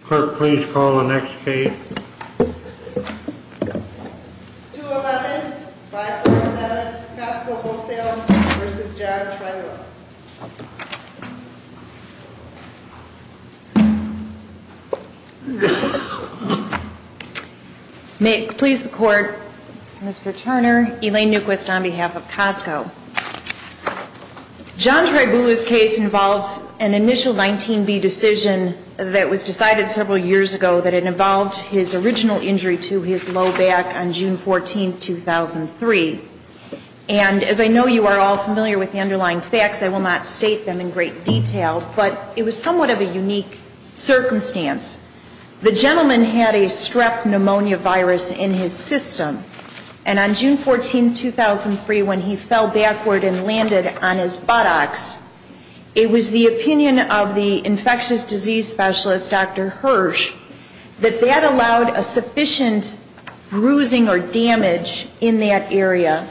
Clerk, please call the next case. 207-547, Costco Wholesale v. John Tribulu. May it please the Court, Mr. Turner, Elaine Newquist on behalf of Costco. John Tribulu's case involves an initial 19B decision that was decided several years ago that involved his original injury to his low back on June 14, 2003. And as I know you are all familiar with the underlying facts, I will not state them in great detail, but it was somewhat of a unique circumstance. The gentleman had a strep pneumonia virus in his system, and on June 14, 2003, when he fell backward and landed on his buttocks, it was the opinion of the infectious disease specialist, Dr. Hirsch, that that allowed a sufficient bruising or damage in that area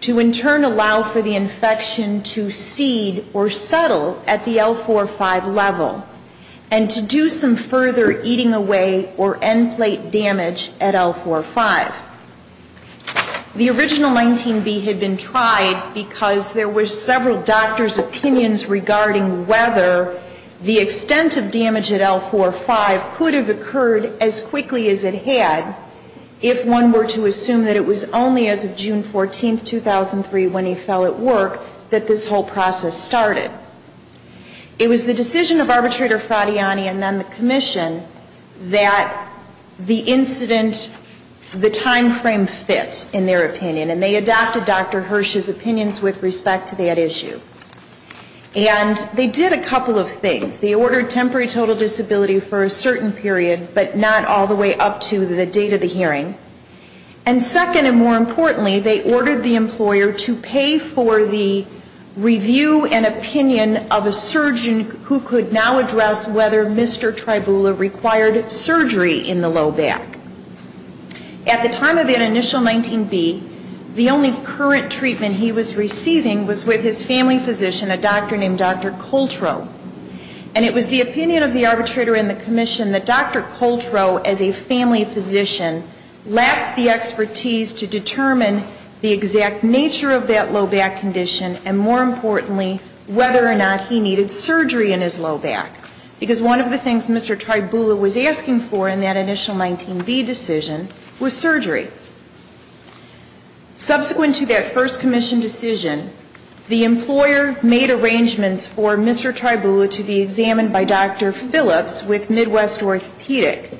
to in turn allow for the infection to seed or settle at the L4-5 level and to do some further eating away or end plate damage at L4-5. The original 19B had been tried because there were several doctors' opinions regarding whether the extent of damage at L4-5 could have occurred as quickly as it had if one were to assume that it was only as of June 14, 2003, when he fell at work, that this whole process started. It was the decision of Arbitrator Fradiani and then the Commission that the incident, the timeframe fit in their opinion, and they adopted Dr. Hirsch's opinions with respect to that issue. And they did a couple of things. They ordered temporary total disability for a certain period, but not all the way up to the date of the hearing. And second and more importantly, they ordered the employer to pay for the review and opinion of a surgeon who could now address whether Mr. Tribula required surgery in the low back. At the time of that initial 19B, the only current treatment he was receiving was with his family physician, a doctor named Dr. Coltro. And it was the opinion of the arbitrator and the Commission that Dr. Coltro, as a family physician, lacked the expertise to determine the exact nature of that low back condition, and more importantly, whether or not he needed surgery in his low back. Because one of the things Mr. Tribula was asking for in that initial 19B decision was surgery. Subsequent to that first Commission decision, the employer made arrangements for Mr. Tribula to be examined by Dr. Phillips with Midwest Orthopedic.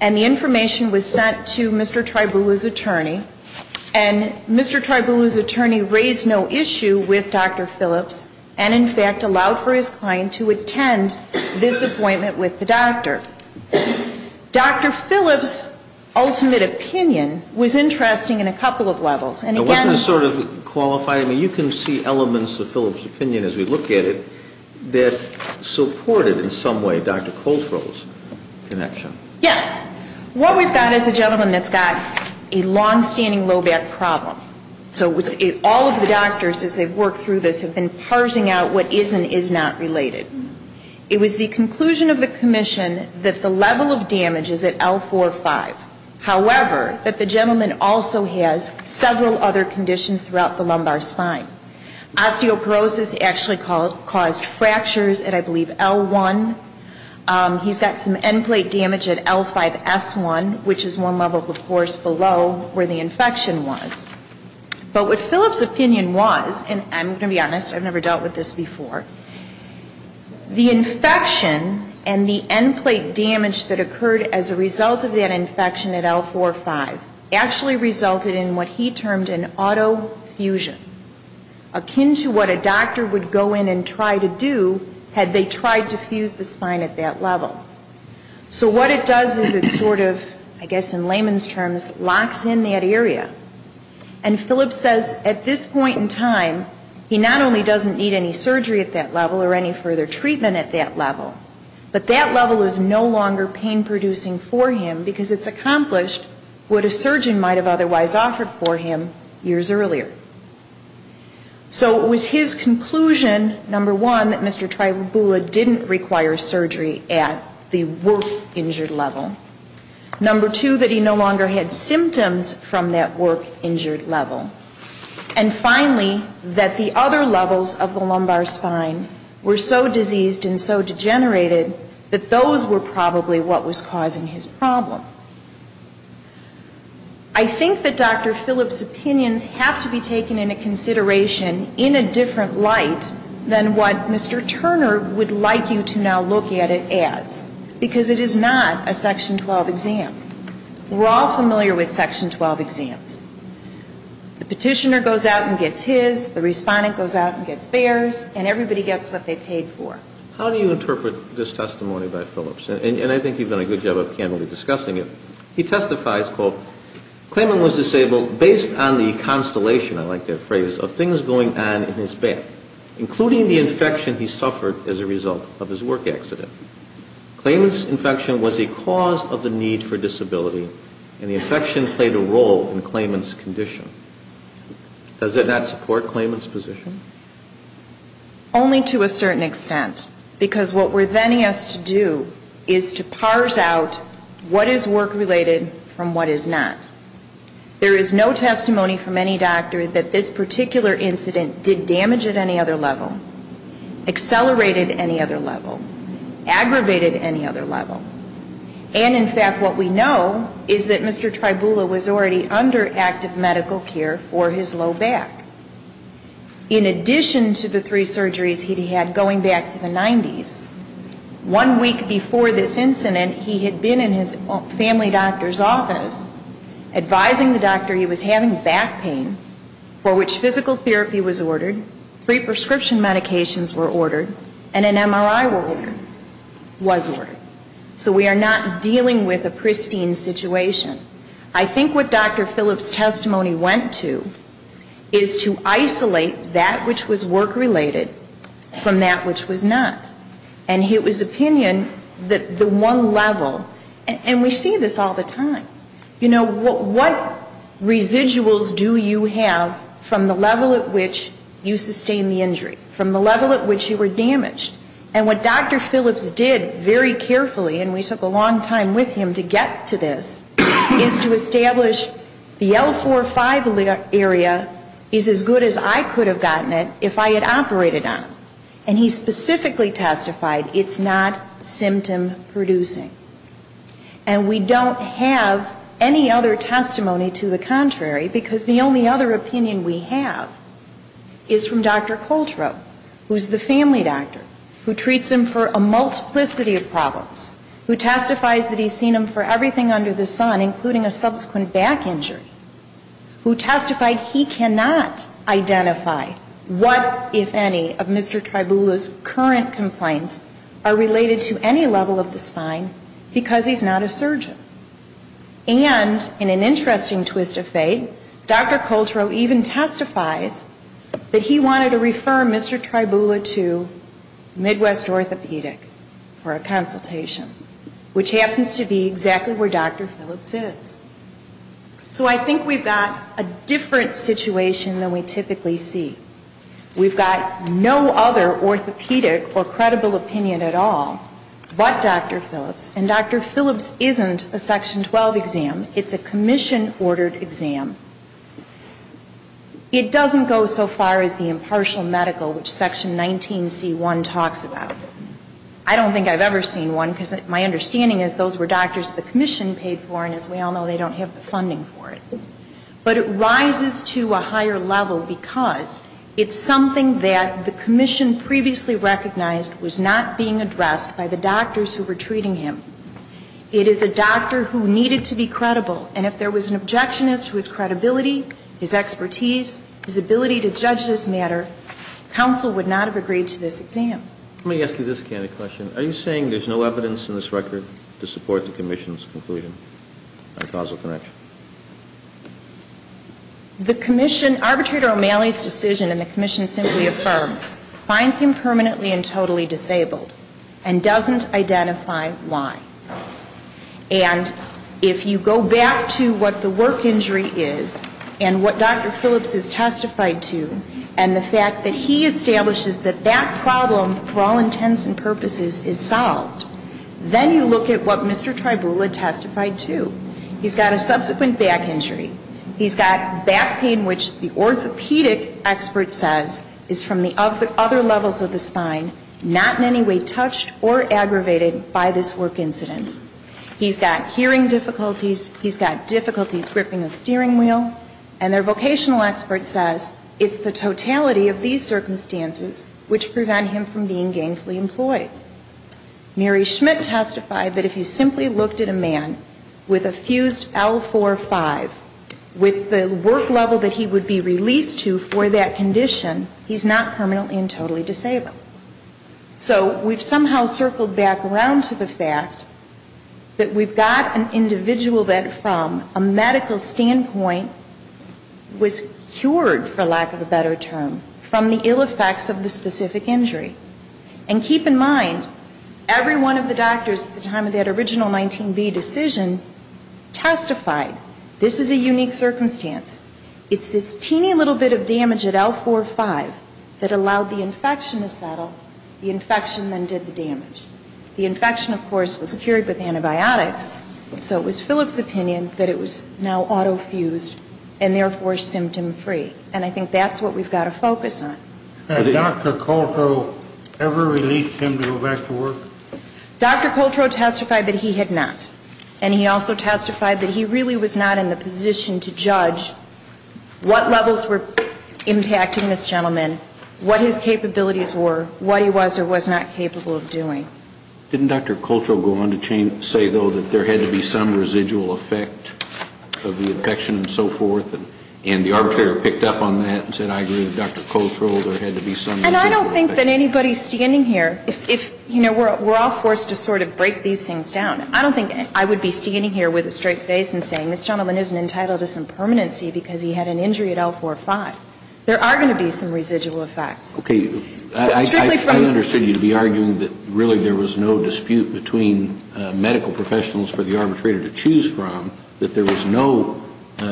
And the information was sent to Mr. Tribula's attorney, and Mr. Tribula's attorney raised no issue with Dr. Phillips, and in fact allowed for his client to attend this appointment with the doctor. Dr. Phillips' ultimate opinion was interesting in a couple of levels. And again... It wasn't a sort of qualified, I mean, you can see elements of Phillips' opinion as we look at it that supported in some way Dr. Coltro's connection. Yes. What we've got is a gentleman that's got a longstanding low back problem. So all of the doctors, as they've worked through this, have been parsing out what is and is not related. It was the conclusion of the Commission that the level of damage is at L4-5. However, that the gentleman also has several other conditions throughout the lumbar spine. Osteoporosis actually caused fractures at, I believe, L1. He's got some end plate damage at L5-S1, which is one level, of course, below where the infection was. But what Phillips' opinion was, and I'm going to be honest, I've never dealt with this before, the infection and the end plate damage that occurred as a result of that infection at L4-5 actually resulted in what he termed an auto-fusion. Akin to what a doctor would go in and try to do had they tried to fuse the spine at that level. So what it does is it sort of, I guess in layman's terms, locks in that area. And Phillips says at this point in time, he not only doesn't need any surgery at that level or any further treatment at that level, but that level is no longer pain-producing for him because it's accomplished what a surgeon might have otherwise offered for him years earlier. So it was his conclusion, number one, that Mr. Tribula didn't require surgery at the work-injured level. Number two, that he no longer had symptoms from that work-injured level. And finally, that the other levels of the lumbar spine were so diseased and so degenerated that those were probably what was causing his problem. I think that Dr. Phillips' opinions have to be taken into consideration in a different light than what Mr. Turner would like you to now look at it as, because it is not a Section 12 exam. We're all familiar with Section 12 exams. The Petitioner goes out and gets his, the Respondent goes out and gets theirs, and everybody gets what they paid for. How do you interpret this testimony by Phillips? And I think you've done a good job of candidly discussing it. He testifies, quote, Clayman was disabled based on the constellation, I like that phrase, of things going on in his back, including the infection he suffered as a result of his work accident. Clayman's infection was a cause of the need for disability, and the infection played a role in Clayman's condition. Does that not support Clayman's position? Only to a certain extent, because what we're then asked to do is to parse out what is work-related from what is not. There is no testimony from any doctor that this particular incident did damage at any other level, accelerated at any other level, aggravated at any other level. And, in fact, what we know is that Mr. Tribula was already under active medical care for his low back. In addition to the three surgeries he'd had going back to the 90s, one week before this incident, he had been in his family doctor's office advising the doctor he was having back pain, for which physical therapy was ordered, three prescription medications were ordered, and an MRI was ordered. So we are not dealing with a pristine situation. I think what Dr. Phillips' testimony went to is to isolate that which was work-related from that which was not. And it was opinion that the one level, and we see this all the time. You know, what residuals do you have from the level at which you sustained the injury, from the level at which you were damaged? And what Dr. Phillips did very carefully, and we took a long time with him to get to this, is to establish the L4-5 area is as good as I could have gotten it if I had operated on it. And he specifically testified it's not symptom-producing. And we don't have any other testimony to the contrary, because the only other opinion we have is from Dr. Coltrow, who's the family doctor, who treats him for a multiplicity of problems, who testifies that he's seen him for everything under the sun, including a subsequent back injury, who testified he cannot identify what, if any, of Mr. Tribula's current complaints are related to any level of the spine, because he's not a surgeon. And in an interesting twist of fate, Dr. Coltrow even testifies that he wanted to refer Mr. Tribula to Midwest Orthopedic for a consultation, which happens to be exactly where Dr. Phillips is. So I think we've got a different situation than we typically see. We've got no other orthopedic or credible opinion at all but Dr. Phillips, and Dr. Phillips isn't a Section 12 exam. It's a commission-ordered exam. It doesn't go so far as the impartial medical, which Section 19c1 talks about. I don't think I've ever seen one, because my understanding is those were doctors the commission paid for, and as we all know, they don't have the funding for it. But it rises to a higher level because it's something that the commission previously recognized was not being addressed by the doctors who were treating him. It is a doctor who needed to be credible, and if there was an objectionist whose credibility, his expertise, his ability to judge this matter, counsel would not have agreed to this exam. Let me ask you this kind of question. Are you saying there's no evidence in this record to support the commission's conclusion on causal connection? The commission, Arbitrator O'Malley's decision in the commission simply affirms, finds him permanently and totally disabled, and doesn't identify why. And if you go back to what the work injury is and what Dr. Phillips has testified to, and the fact that he establishes that that problem, for all intents and purposes, is solved, then you look at what Mr. Tribula testified to. He's got a subsequent back injury. He's got back pain which the orthopedic expert says is from the other levels of the spine, not in any way touched or aggravated by this work incident. He's got hearing difficulties. He's got difficulty gripping a steering wheel. And their vocational expert says it's the totality of these circumstances which prevent him from being gainfully employed. Mary Schmidt testified that if you simply looked at a man with a fused L4-5, with the work level that he would be released to for that condition, he's not permanently and totally disabled. So we've somehow circled back around to the fact that we've got an individual that, from a medical standpoint, was cured, for lack of a better term, from the ill effects of the specific injury. And keep in mind, every one of the doctors at the time of that original 19B decision testified, this is a unique circumstance. It's this teeny little bit of damage at L4-5 that allowed the infection to settle. The infection then did the damage. The infection, of course, was cured with antibiotics. So it was Phillips' opinion that it was now auto-fused and therefore symptom-free. And I think that's what we've got to focus on. Had Dr. Coltro ever released him to go back to work? Dr. Coltro testified that he had not. And he also testified that he really was not in the position to judge what levels were impacting this gentleman, what his capabilities were, what he was or was not capable of doing. Didn't Dr. Coltro go on to say, though, that there had to be some residual effect of the infection and so forth? And the arbitrator picked up on that and said, I agree with Dr. Coltro, there had to be some residual effect. And I don't think that anybody standing here, if, you know, we're all forced to sort of break these things down. I don't think I would be standing here with a straight face and saying, this gentleman isn't entitled to some permanency because he had an injury at L4-5. There are going to be some residual effects. Okay. Strictly from. I understood you to be arguing that really there was no dispute between medical professionals for the arbitrator to choose from, that there was no,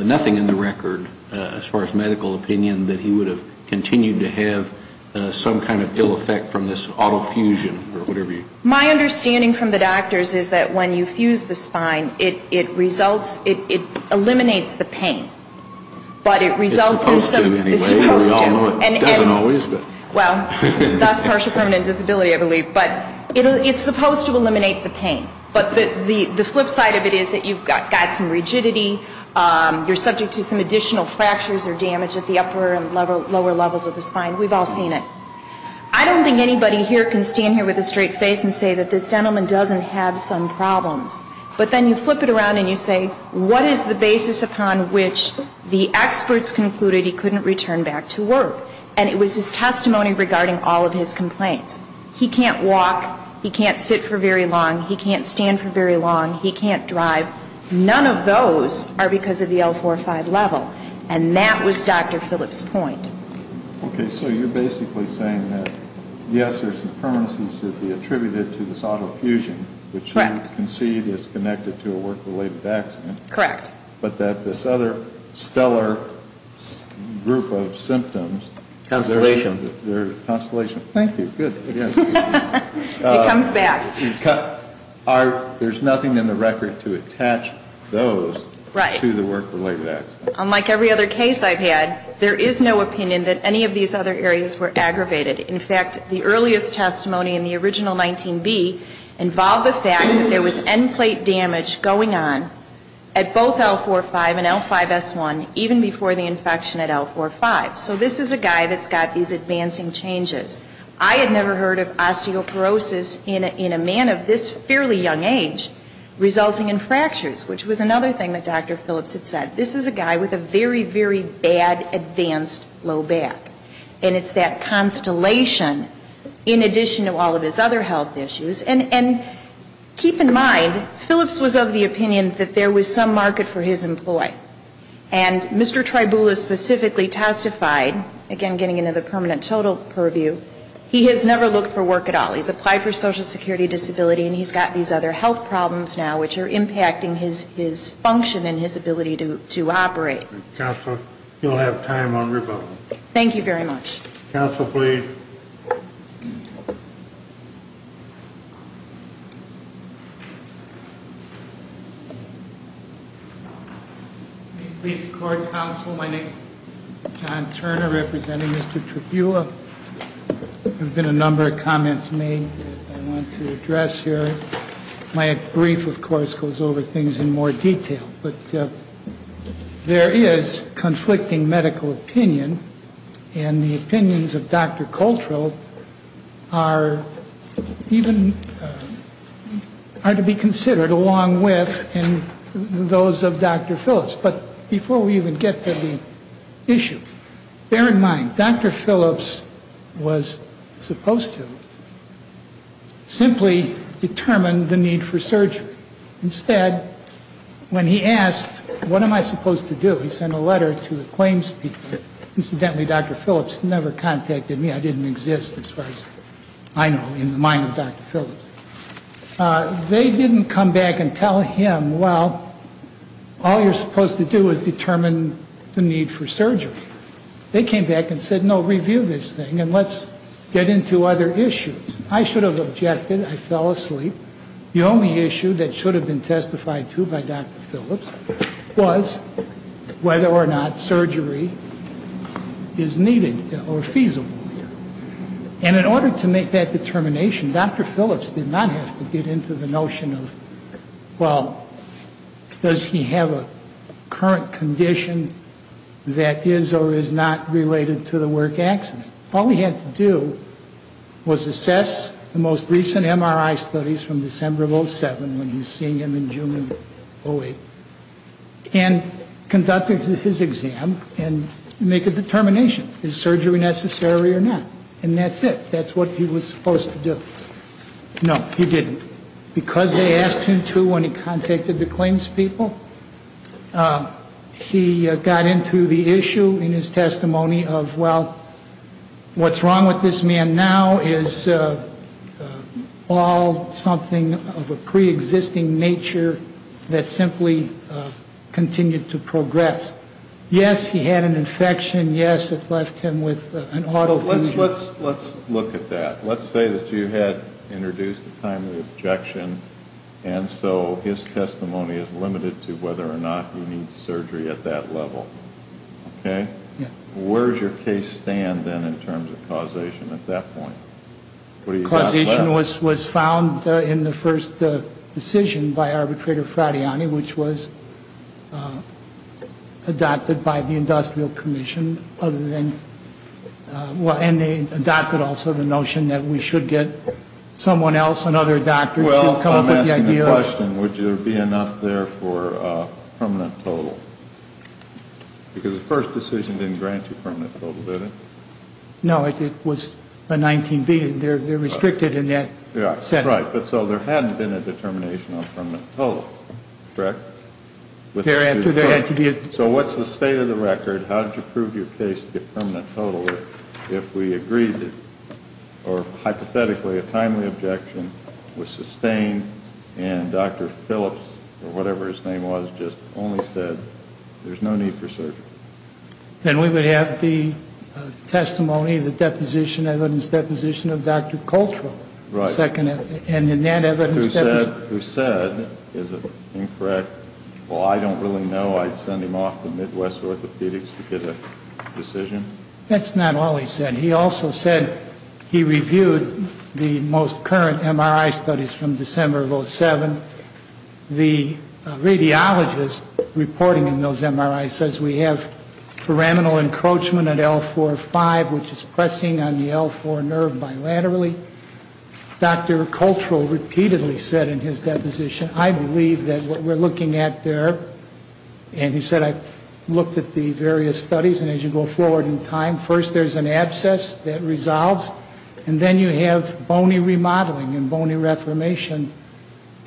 nothing in the record, as far as medical opinion, that he would have continued to have some kind of ill effect from this autofusion or whatever you. My understanding from the doctors is that when you fuse the spine, it results, it eliminates the pain. But it results in some. It's supposed to anyway. It's supposed to. We all know it doesn't always, but. Well, that's partial permanent disability, I believe. But it's supposed to eliminate the pain. But the flip side of it is that you've got some rigidity. You're subject to some additional fractures or damage at the upper and lower levels of the spine. We've all seen it. I don't think anybody here can stand here with a straight face and say that this gentleman doesn't have some problems. But then you flip it around and you say, what is the basis upon which the experts concluded he couldn't return back to work? And it was his testimony regarding all of his complaints. He can't walk. He can't sit for very long. He can't stand for very long. He can't drive. None of those are because of the L-4-5 level. And that was Dr. Phillips' point. Okay. So you're basically saying that, yes, there's some permanencies to be attributed to this autofusion. Correct. Which you concede is connected to a work-related accident. Correct. But that this other stellar group of symptoms. Constellation. Constellation. Thank you. Good. It comes back. There's nothing in the record to attach those to the work-related accident. Right. Unlike every other case I've had, there is no opinion that any of these other areas were aggravated. In fact, the earliest testimony in the original 19B involved the fact that there was end plate damage going on at both L-4-5 and L-5S1, even before the infection at L-4-5. So this is a guy that's got these advancing changes. I had never heard of osteoporosis in a man of this fairly young age resulting in fractures, which was another thing that Dr. Phillips had said. This is a guy with a very, very bad advanced low back. And it's that constellation in addition to all of his other health issues. And keep in mind, Phillips was of the opinion that there was some market for his employee. And Mr. Tribula specifically testified, again getting into the permanent total purview, he has never looked for work at all. He's applied for social security disability, and he's got these other health problems now, which are impacting his function and his ability to operate. Counsel, you'll have time on rebuttal. Thank you very much. Counsel, please. Please record, Counsel. My name is John Turner, representing Mr. Tribula. There have been a number of comments made that I want to address here. My brief, of course, goes over things in more detail. But there is conflicting medical opinion, and the opinions of Dr. Coltrell are to be considered along with those of Dr. Phillips. But before we even get to the issue, bear in mind, Dr. Phillips was supposed to simply determine the need for surgery. Instead, when he asked, what am I supposed to do, he sent a letter to the claims people. Incidentally, Dr. Phillips never contacted me. I didn't exist, as far as I know, in the mind of Dr. Phillips. They didn't come back and tell him, well, all you're supposed to do is determine the need for surgery. They came back and said, no, review this thing, and let's get into other issues. I should have objected. I fell asleep. The only issue that should have been testified to by Dr. Phillips was whether or not surgery is needed or feasible. And in order to make that determination, Dr. Phillips did not have to get into the notion of, well, does he have a current condition that is or is not related to the work accident. All he had to do was assess the most recent MRI studies from December of 07, when he was seeing him in June of 08, and conduct his exam and make a determination, is surgery necessary or not? And that's it. That's what he was supposed to do. No, he didn't. Because they asked him to when he contacted the claims people, he got into the issue in his testimony of, well, what's wrong with this man now is all something of a preexisting nature that simply continued to progress. Yes, he had an infection. Yes, it left him with an autofusion. Let's look at that. Let's say that you had introduced a timely objection, and so his testimony is limited to whether or not he needs surgery at that level. Okay? Yeah. Where does your case stand then in terms of causation at that point? Causation was found in the first decision by Arbitrator Fradiani, which was adopted by the Industrial Commission, other than, well, and they adopted also the notion that we should get someone else, another doctor to come up with the idea. Well, I'm asking the question, would there be enough there for permanent total? Because the first decision didn't grant you permanent total, did it? No. It was a 19B, and they're restricted in that sense. Right. But so there hadn't been a determination on permanent total, correct? There had to be. So what's the state of the record? How did you prove your case to be permanent total if we agreed, or hypothetically, a timely objection was sustained, and Dr. Phillips, or whatever his name was, just only said, there's no need for surgery? Then we would have the testimony, the deposition, evidence deposition of Dr. Coltrane. Right. And in that evidence deposition. Who said, is it incorrect, well, I don't really know I'd send him off to Midwest Orthopedics to get a decision? That's not all he said. He also said he reviewed the most current MRI studies from December of 2007. The radiologist reporting in those MRIs says we have pyramidal encroachment at L4-5, which is pressing on the L4 nerve bilaterally. Dr. Coltrane repeatedly said in his deposition, I believe that what we're looking at there, and he said, I looked at the various studies, and as you go forward in time, first there's an abscess that resolves, and then you have bony remodeling and bony reformation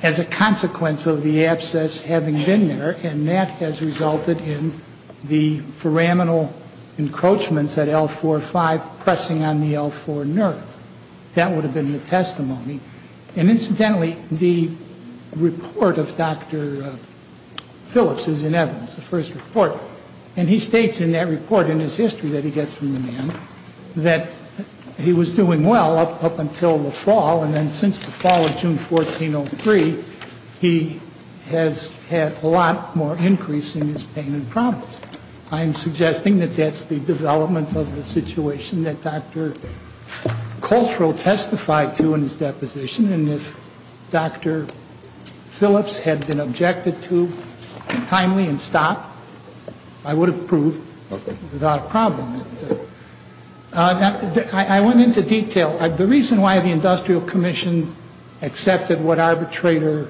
as a consequence of the abscess having been there, and that has resulted in the pyramidal encroachments at L4-5 pressing on the L4 nerve. That would have been the testimony. And incidentally, the report of Dr. Phillips is in evidence, the first report, and he states in that report, in his history that he gets from the man, that he was doing well up until the fall, and then since the fall of June 1403, he has had a lot more increase in his pain and problems. I am suggesting that that's the development of the situation that Dr. Coltrane testified to in his deposition, and if Dr. Phillips had been objected to timely and stopped, I would have proved without a problem. I went into detail. The reason why the Industrial Commission accepted what arbitrator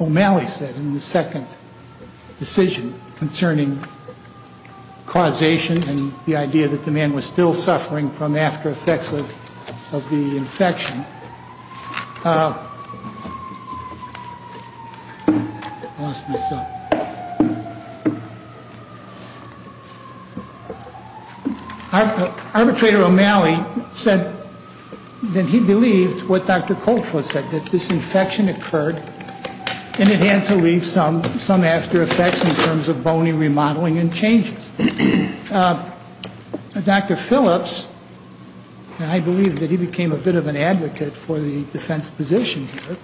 O'Malley said in the second decision concerning causation and the idea that the man was still suffering from aftereffects of the infection, arbitrator O'Malley said that he believed what Dr. Coltrane said, that this infection occurred and it had to leave some after effects in terms of bony remodeling and changes. Dr. Phillips, and I believe that he became a bit of an advocate for the defense position here,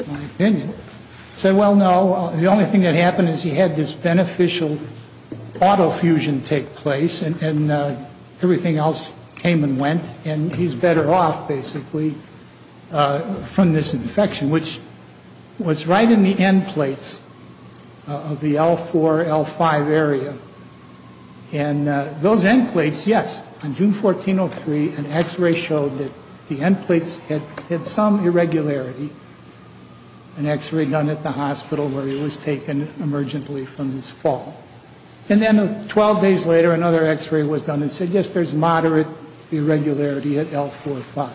in my opinion, said, well, no, the only thing that happened is he had this beneficial autofusion take place and everything else came and went, and he's better off, basically, from this infection, which was right in the end plates of the L4, L5 area. And those end plates, yes, on June 1403, an X-ray showed that the end plates had some irregularity, an X-ray done at the hospital where he was taken emergently from his fall. And then 12 days later, another X-ray was done and said, yes, there's moderate irregularity at L4, L5.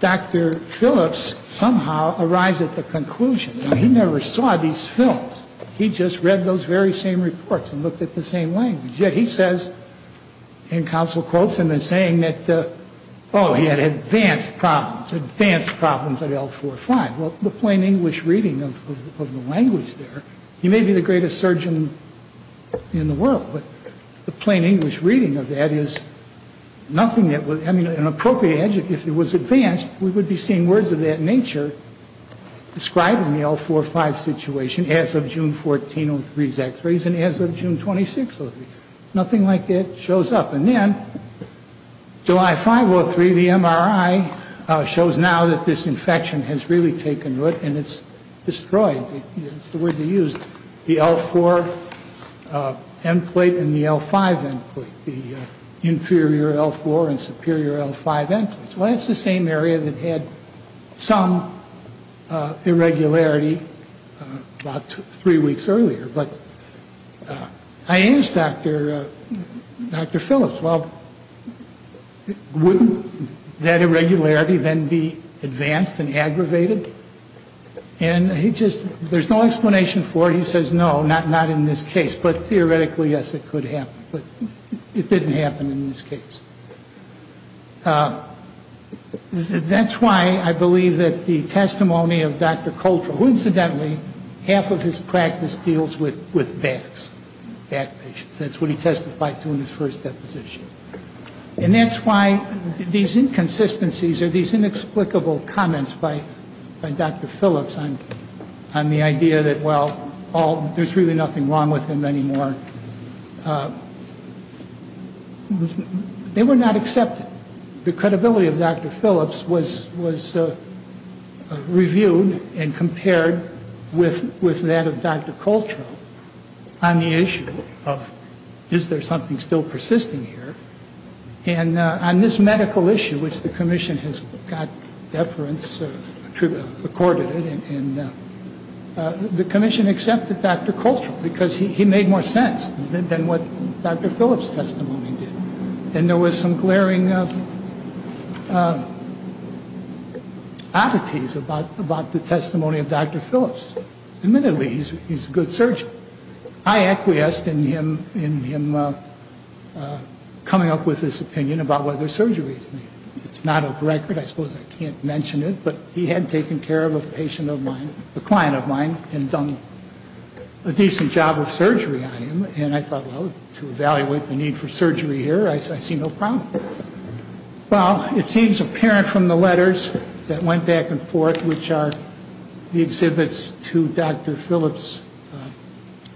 Dr. Phillips somehow arrives at the conclusion that he never saw these films. He just read those very same reports and looked at the same language. Yet he says, and counsel quotes him in saying that, oh, he had advanced problems, advanced problems at L4, L5. Well, the plain English reading of the language there, he may be the greatest surgeon in the world, but the plain English reading of that is nothing that would, I mean, an appropriate adjective. If it was advanced, we would be seeing words of that nature described in the L4, L5 situation as of June 1403's X-rays and as of June 2603. Nothing like that shows up. And then July 503, the MRI shows now that this infection has really taken root and it's destroyed. It's the word they used, the L4 end plate and the L5 end plate, the inferior L4 and superior L5 end plates. Well, that's the same area that had some irregularity about three weeks earlier. But I asked Dr. Phillips, well, wouldn't that irregularity then be advanced and aggravated? And he just, there's no explanation for it. He says, no, not in this case. But theoretically, yes, it could happen. But it didn't happen in this case. That's why I believe that the testimony of Dr. Coulter, who incidentally, half of his practice deals with backs, back patients. That's what he testified to in his first deposition. And that's why these inconsistencies or these inexplicable comments by Dr. Phillips on the idea that, well, there's really nothing wrong with him anymore. They were not accepted. The credibility of Dr. Phillips was reviewed and compared with that of Dr. Coulter on the issue of, is there something still persisting here? And on this medical issue, which the commission has got deference, accorded it, the commission accepted Dr. Coulter because he made more sense than what Dr. Phillips' testimony did. And there was some glaring oddities about the testimony of Dr. Phillips. Admittedly, he's a good surgeon. I acquiesced in him coming up with this opinion about whether surgery is needed. It's not off record. I suppose I can't mention it. But he had taken care of a patient of mine, a client of mine, and done a decent job of surgery on him. And I thought, well, to evaluate the need for surgery here, I see no problem. Well, it seems apparent from the letters that went back and forth, which are the exhibits to Dr. Phillips'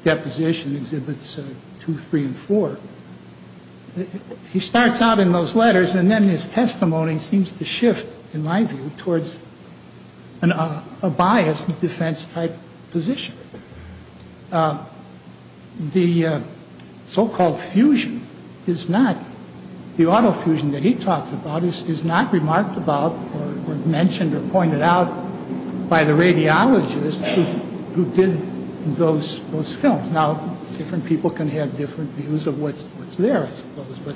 deposition, Exhibits 2, 3, and 4. He starts out in those letters, and then his testimony seems to shift, in my view, towards a biased defense-type position. The so-called fusion is not, the autofusion that he talks about is not remarked about or mentioned or pointed out by the radiologist who did those films. Now, different people can have different views of what's there, I suppose. But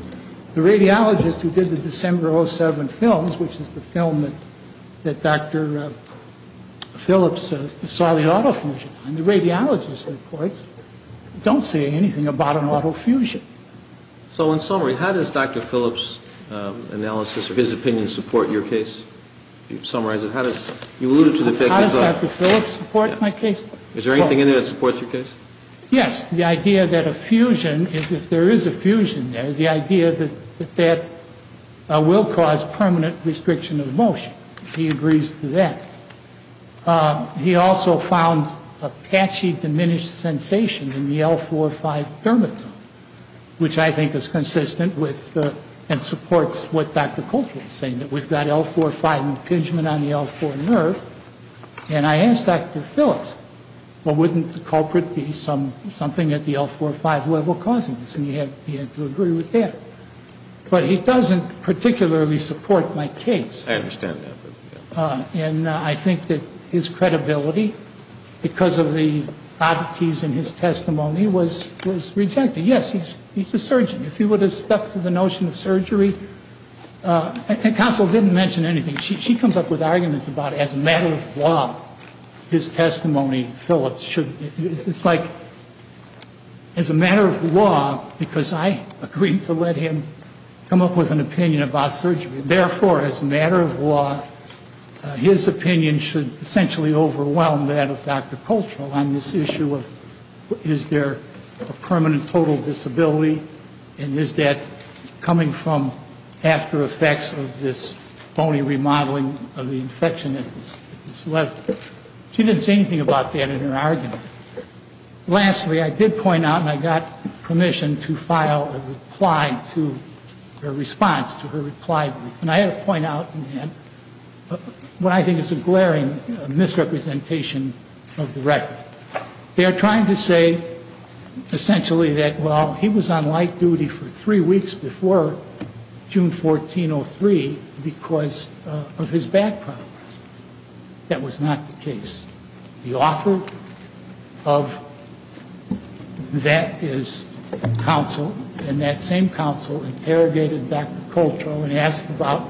the radiologist who did the December of 2007 films, which is the film that Dr. Phillips saw the autofusion on, the radiologist reports don't say anything about an autofusion. So in summary, how does Dr. Phillips' analysis or his opinion support your case? Can you summarize it? How does Dr. Phillips support my case? Is there anything in there that supports your case? Yes. The idea that a fusion, if there is a fusion there, the idea that that will cause permanent restriction of motion. He agrees to that. He also found a patchy diminished sensation in the L4-5 dermis, which I think is consistent with and supports what Dr. Coltrane is saying, that we've got L4-5 impingement on the L4 nerve. And I asked Dr. Phillips, well, wouldn't the culprit be something at the L4-5 level causing this? And he had to agree with that. But he doesn't particularly support my case. I understand that. And I think that his credibility, because of the oddities in his testimony, was rejected. Yes, he's a surgeon. If he would have stuck to the notion of surgery. Counsel didn't mention anything. She comes up with arguments about, as a matter of law, his testimony, it's like, as a matter of law, because I agreed to let him come up with an opinion about surgery, therefore, as a matter of law, his opinion should essentially overwhelm that of Dr. Coltrane on this issue of is there a permanent total disability, and is that coming from after effects of this phony remodeling of the infection that was left. She didn't say anything about that in her argument. Lastly, I did point out, and I got permission to file a reply to her response, to her reply. And I had to point out what I think is a glaring misrepresentation of the record. They are trying to say, essentially, that, well, he was on light duty for three weeks before June 1403 because of his back problems. That was not the case. The author of that is counsel, and that same counsel interrogated Dr. Coltrane and asked about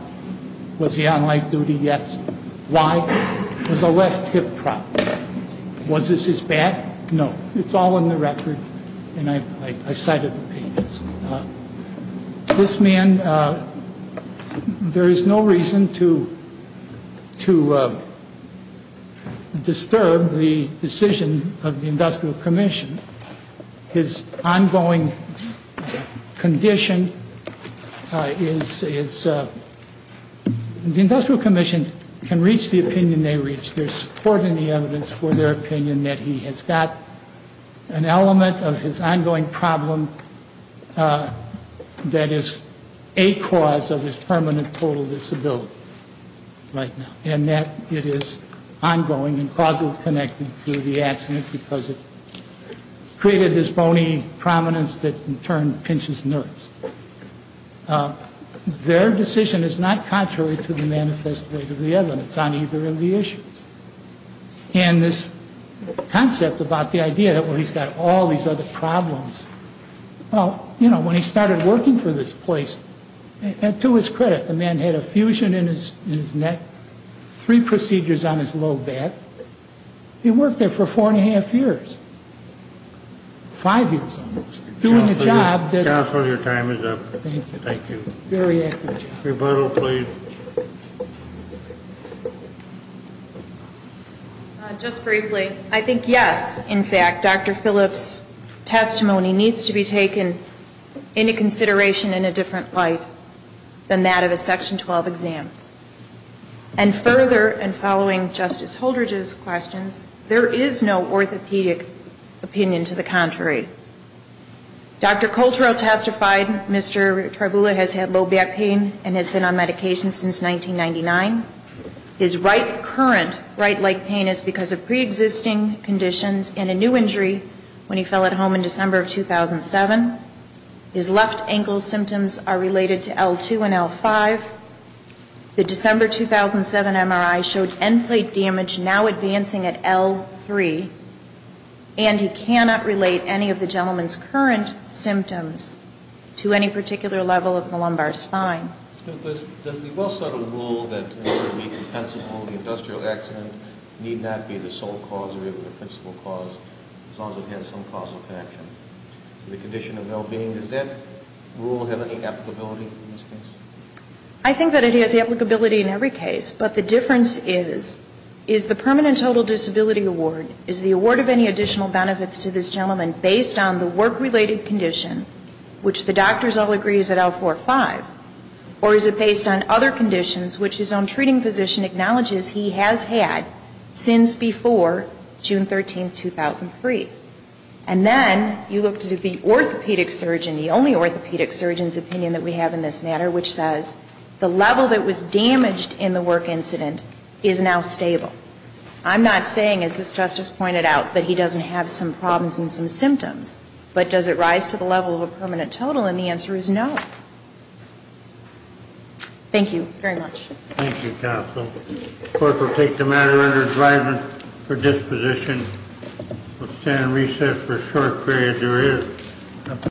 was he on light duty yet. Why? It was a left hip problem. Was this his back? No. It's all in the record, and I cited the pages. This man, there is no reason to disturb the decision of the Industrial Commission. His ongoing condition is the Industrial Commission can reach the opinion they reach. There is support in the evidence for their opinion that he has got an element of his ongoing problem that is a cause of his permanent total disability right now, and that it is ongoing and causally connected to the accident because it created this bony prominence that, in turn, pinches nerves. Their decision is not contrary to the manifest weight of the evidence on either of the issues, and this concept about the idea that, well, he's got all these other problems. Well, you know, when he started working for this place, and to his credit, the man had a fusion in his neck, three procedures on his low back. He worked there for four and a half years, five years almost, doing a job that... Counsel, your time is up. Thank you. Thank you. Very accurate job. Rebuttal, please. Just briefly, I think, yes, in fact, Dr. Phillips' testimony needs to be taken into consideration in a different light than that of a Section 12 exam. And further, and following Justice Holdridge's questions, there is no orthopedic opinion to the contrary. Dr. Coltero testified Mr. Tribula has had low back pain and has been on medication since 1999. His right current right leg pain is because of preexisting conditions and a new injury when he fell at home in December of 2007. His left ankle symptoms are related to L2 and L5. The December 2007 MRI showed end plate damage now advancing at L3, and he cannot relate any of the gentleman's current symptoms to any particular level of the lumbar spine. Does the well-studded rule that it would be compensable, the industrial accident, need not be the sole cause or even the principal cause as long as it has some causal connection to the condition of well-being, does that rule have any applicability in this case? I think that it has applicability in every case, but the difference is, is the permanent total disability award, is the award of any additional benefits to this gentleman based on the work-related condition, which the doctors all agree is at L4-5, or is it based on other conditions which his own treating physician acknowledges he has had since before June 13, 2003? And then you look to the orthopedic surgeon, the only orthopedic surgeon's opinion that we have in this matter, which says the level that was damaged in the work incident is now stable. I'm not saying, as this Justice pointed out, that he doesn't have some problems and some symptoms, but does it rise to the level of a permanent total? And the answer is no. Thank you very much. Thank you, Counsel. The Court will take the matter under advisement for disposition. We'll stand in recess for a short period. There is a motion.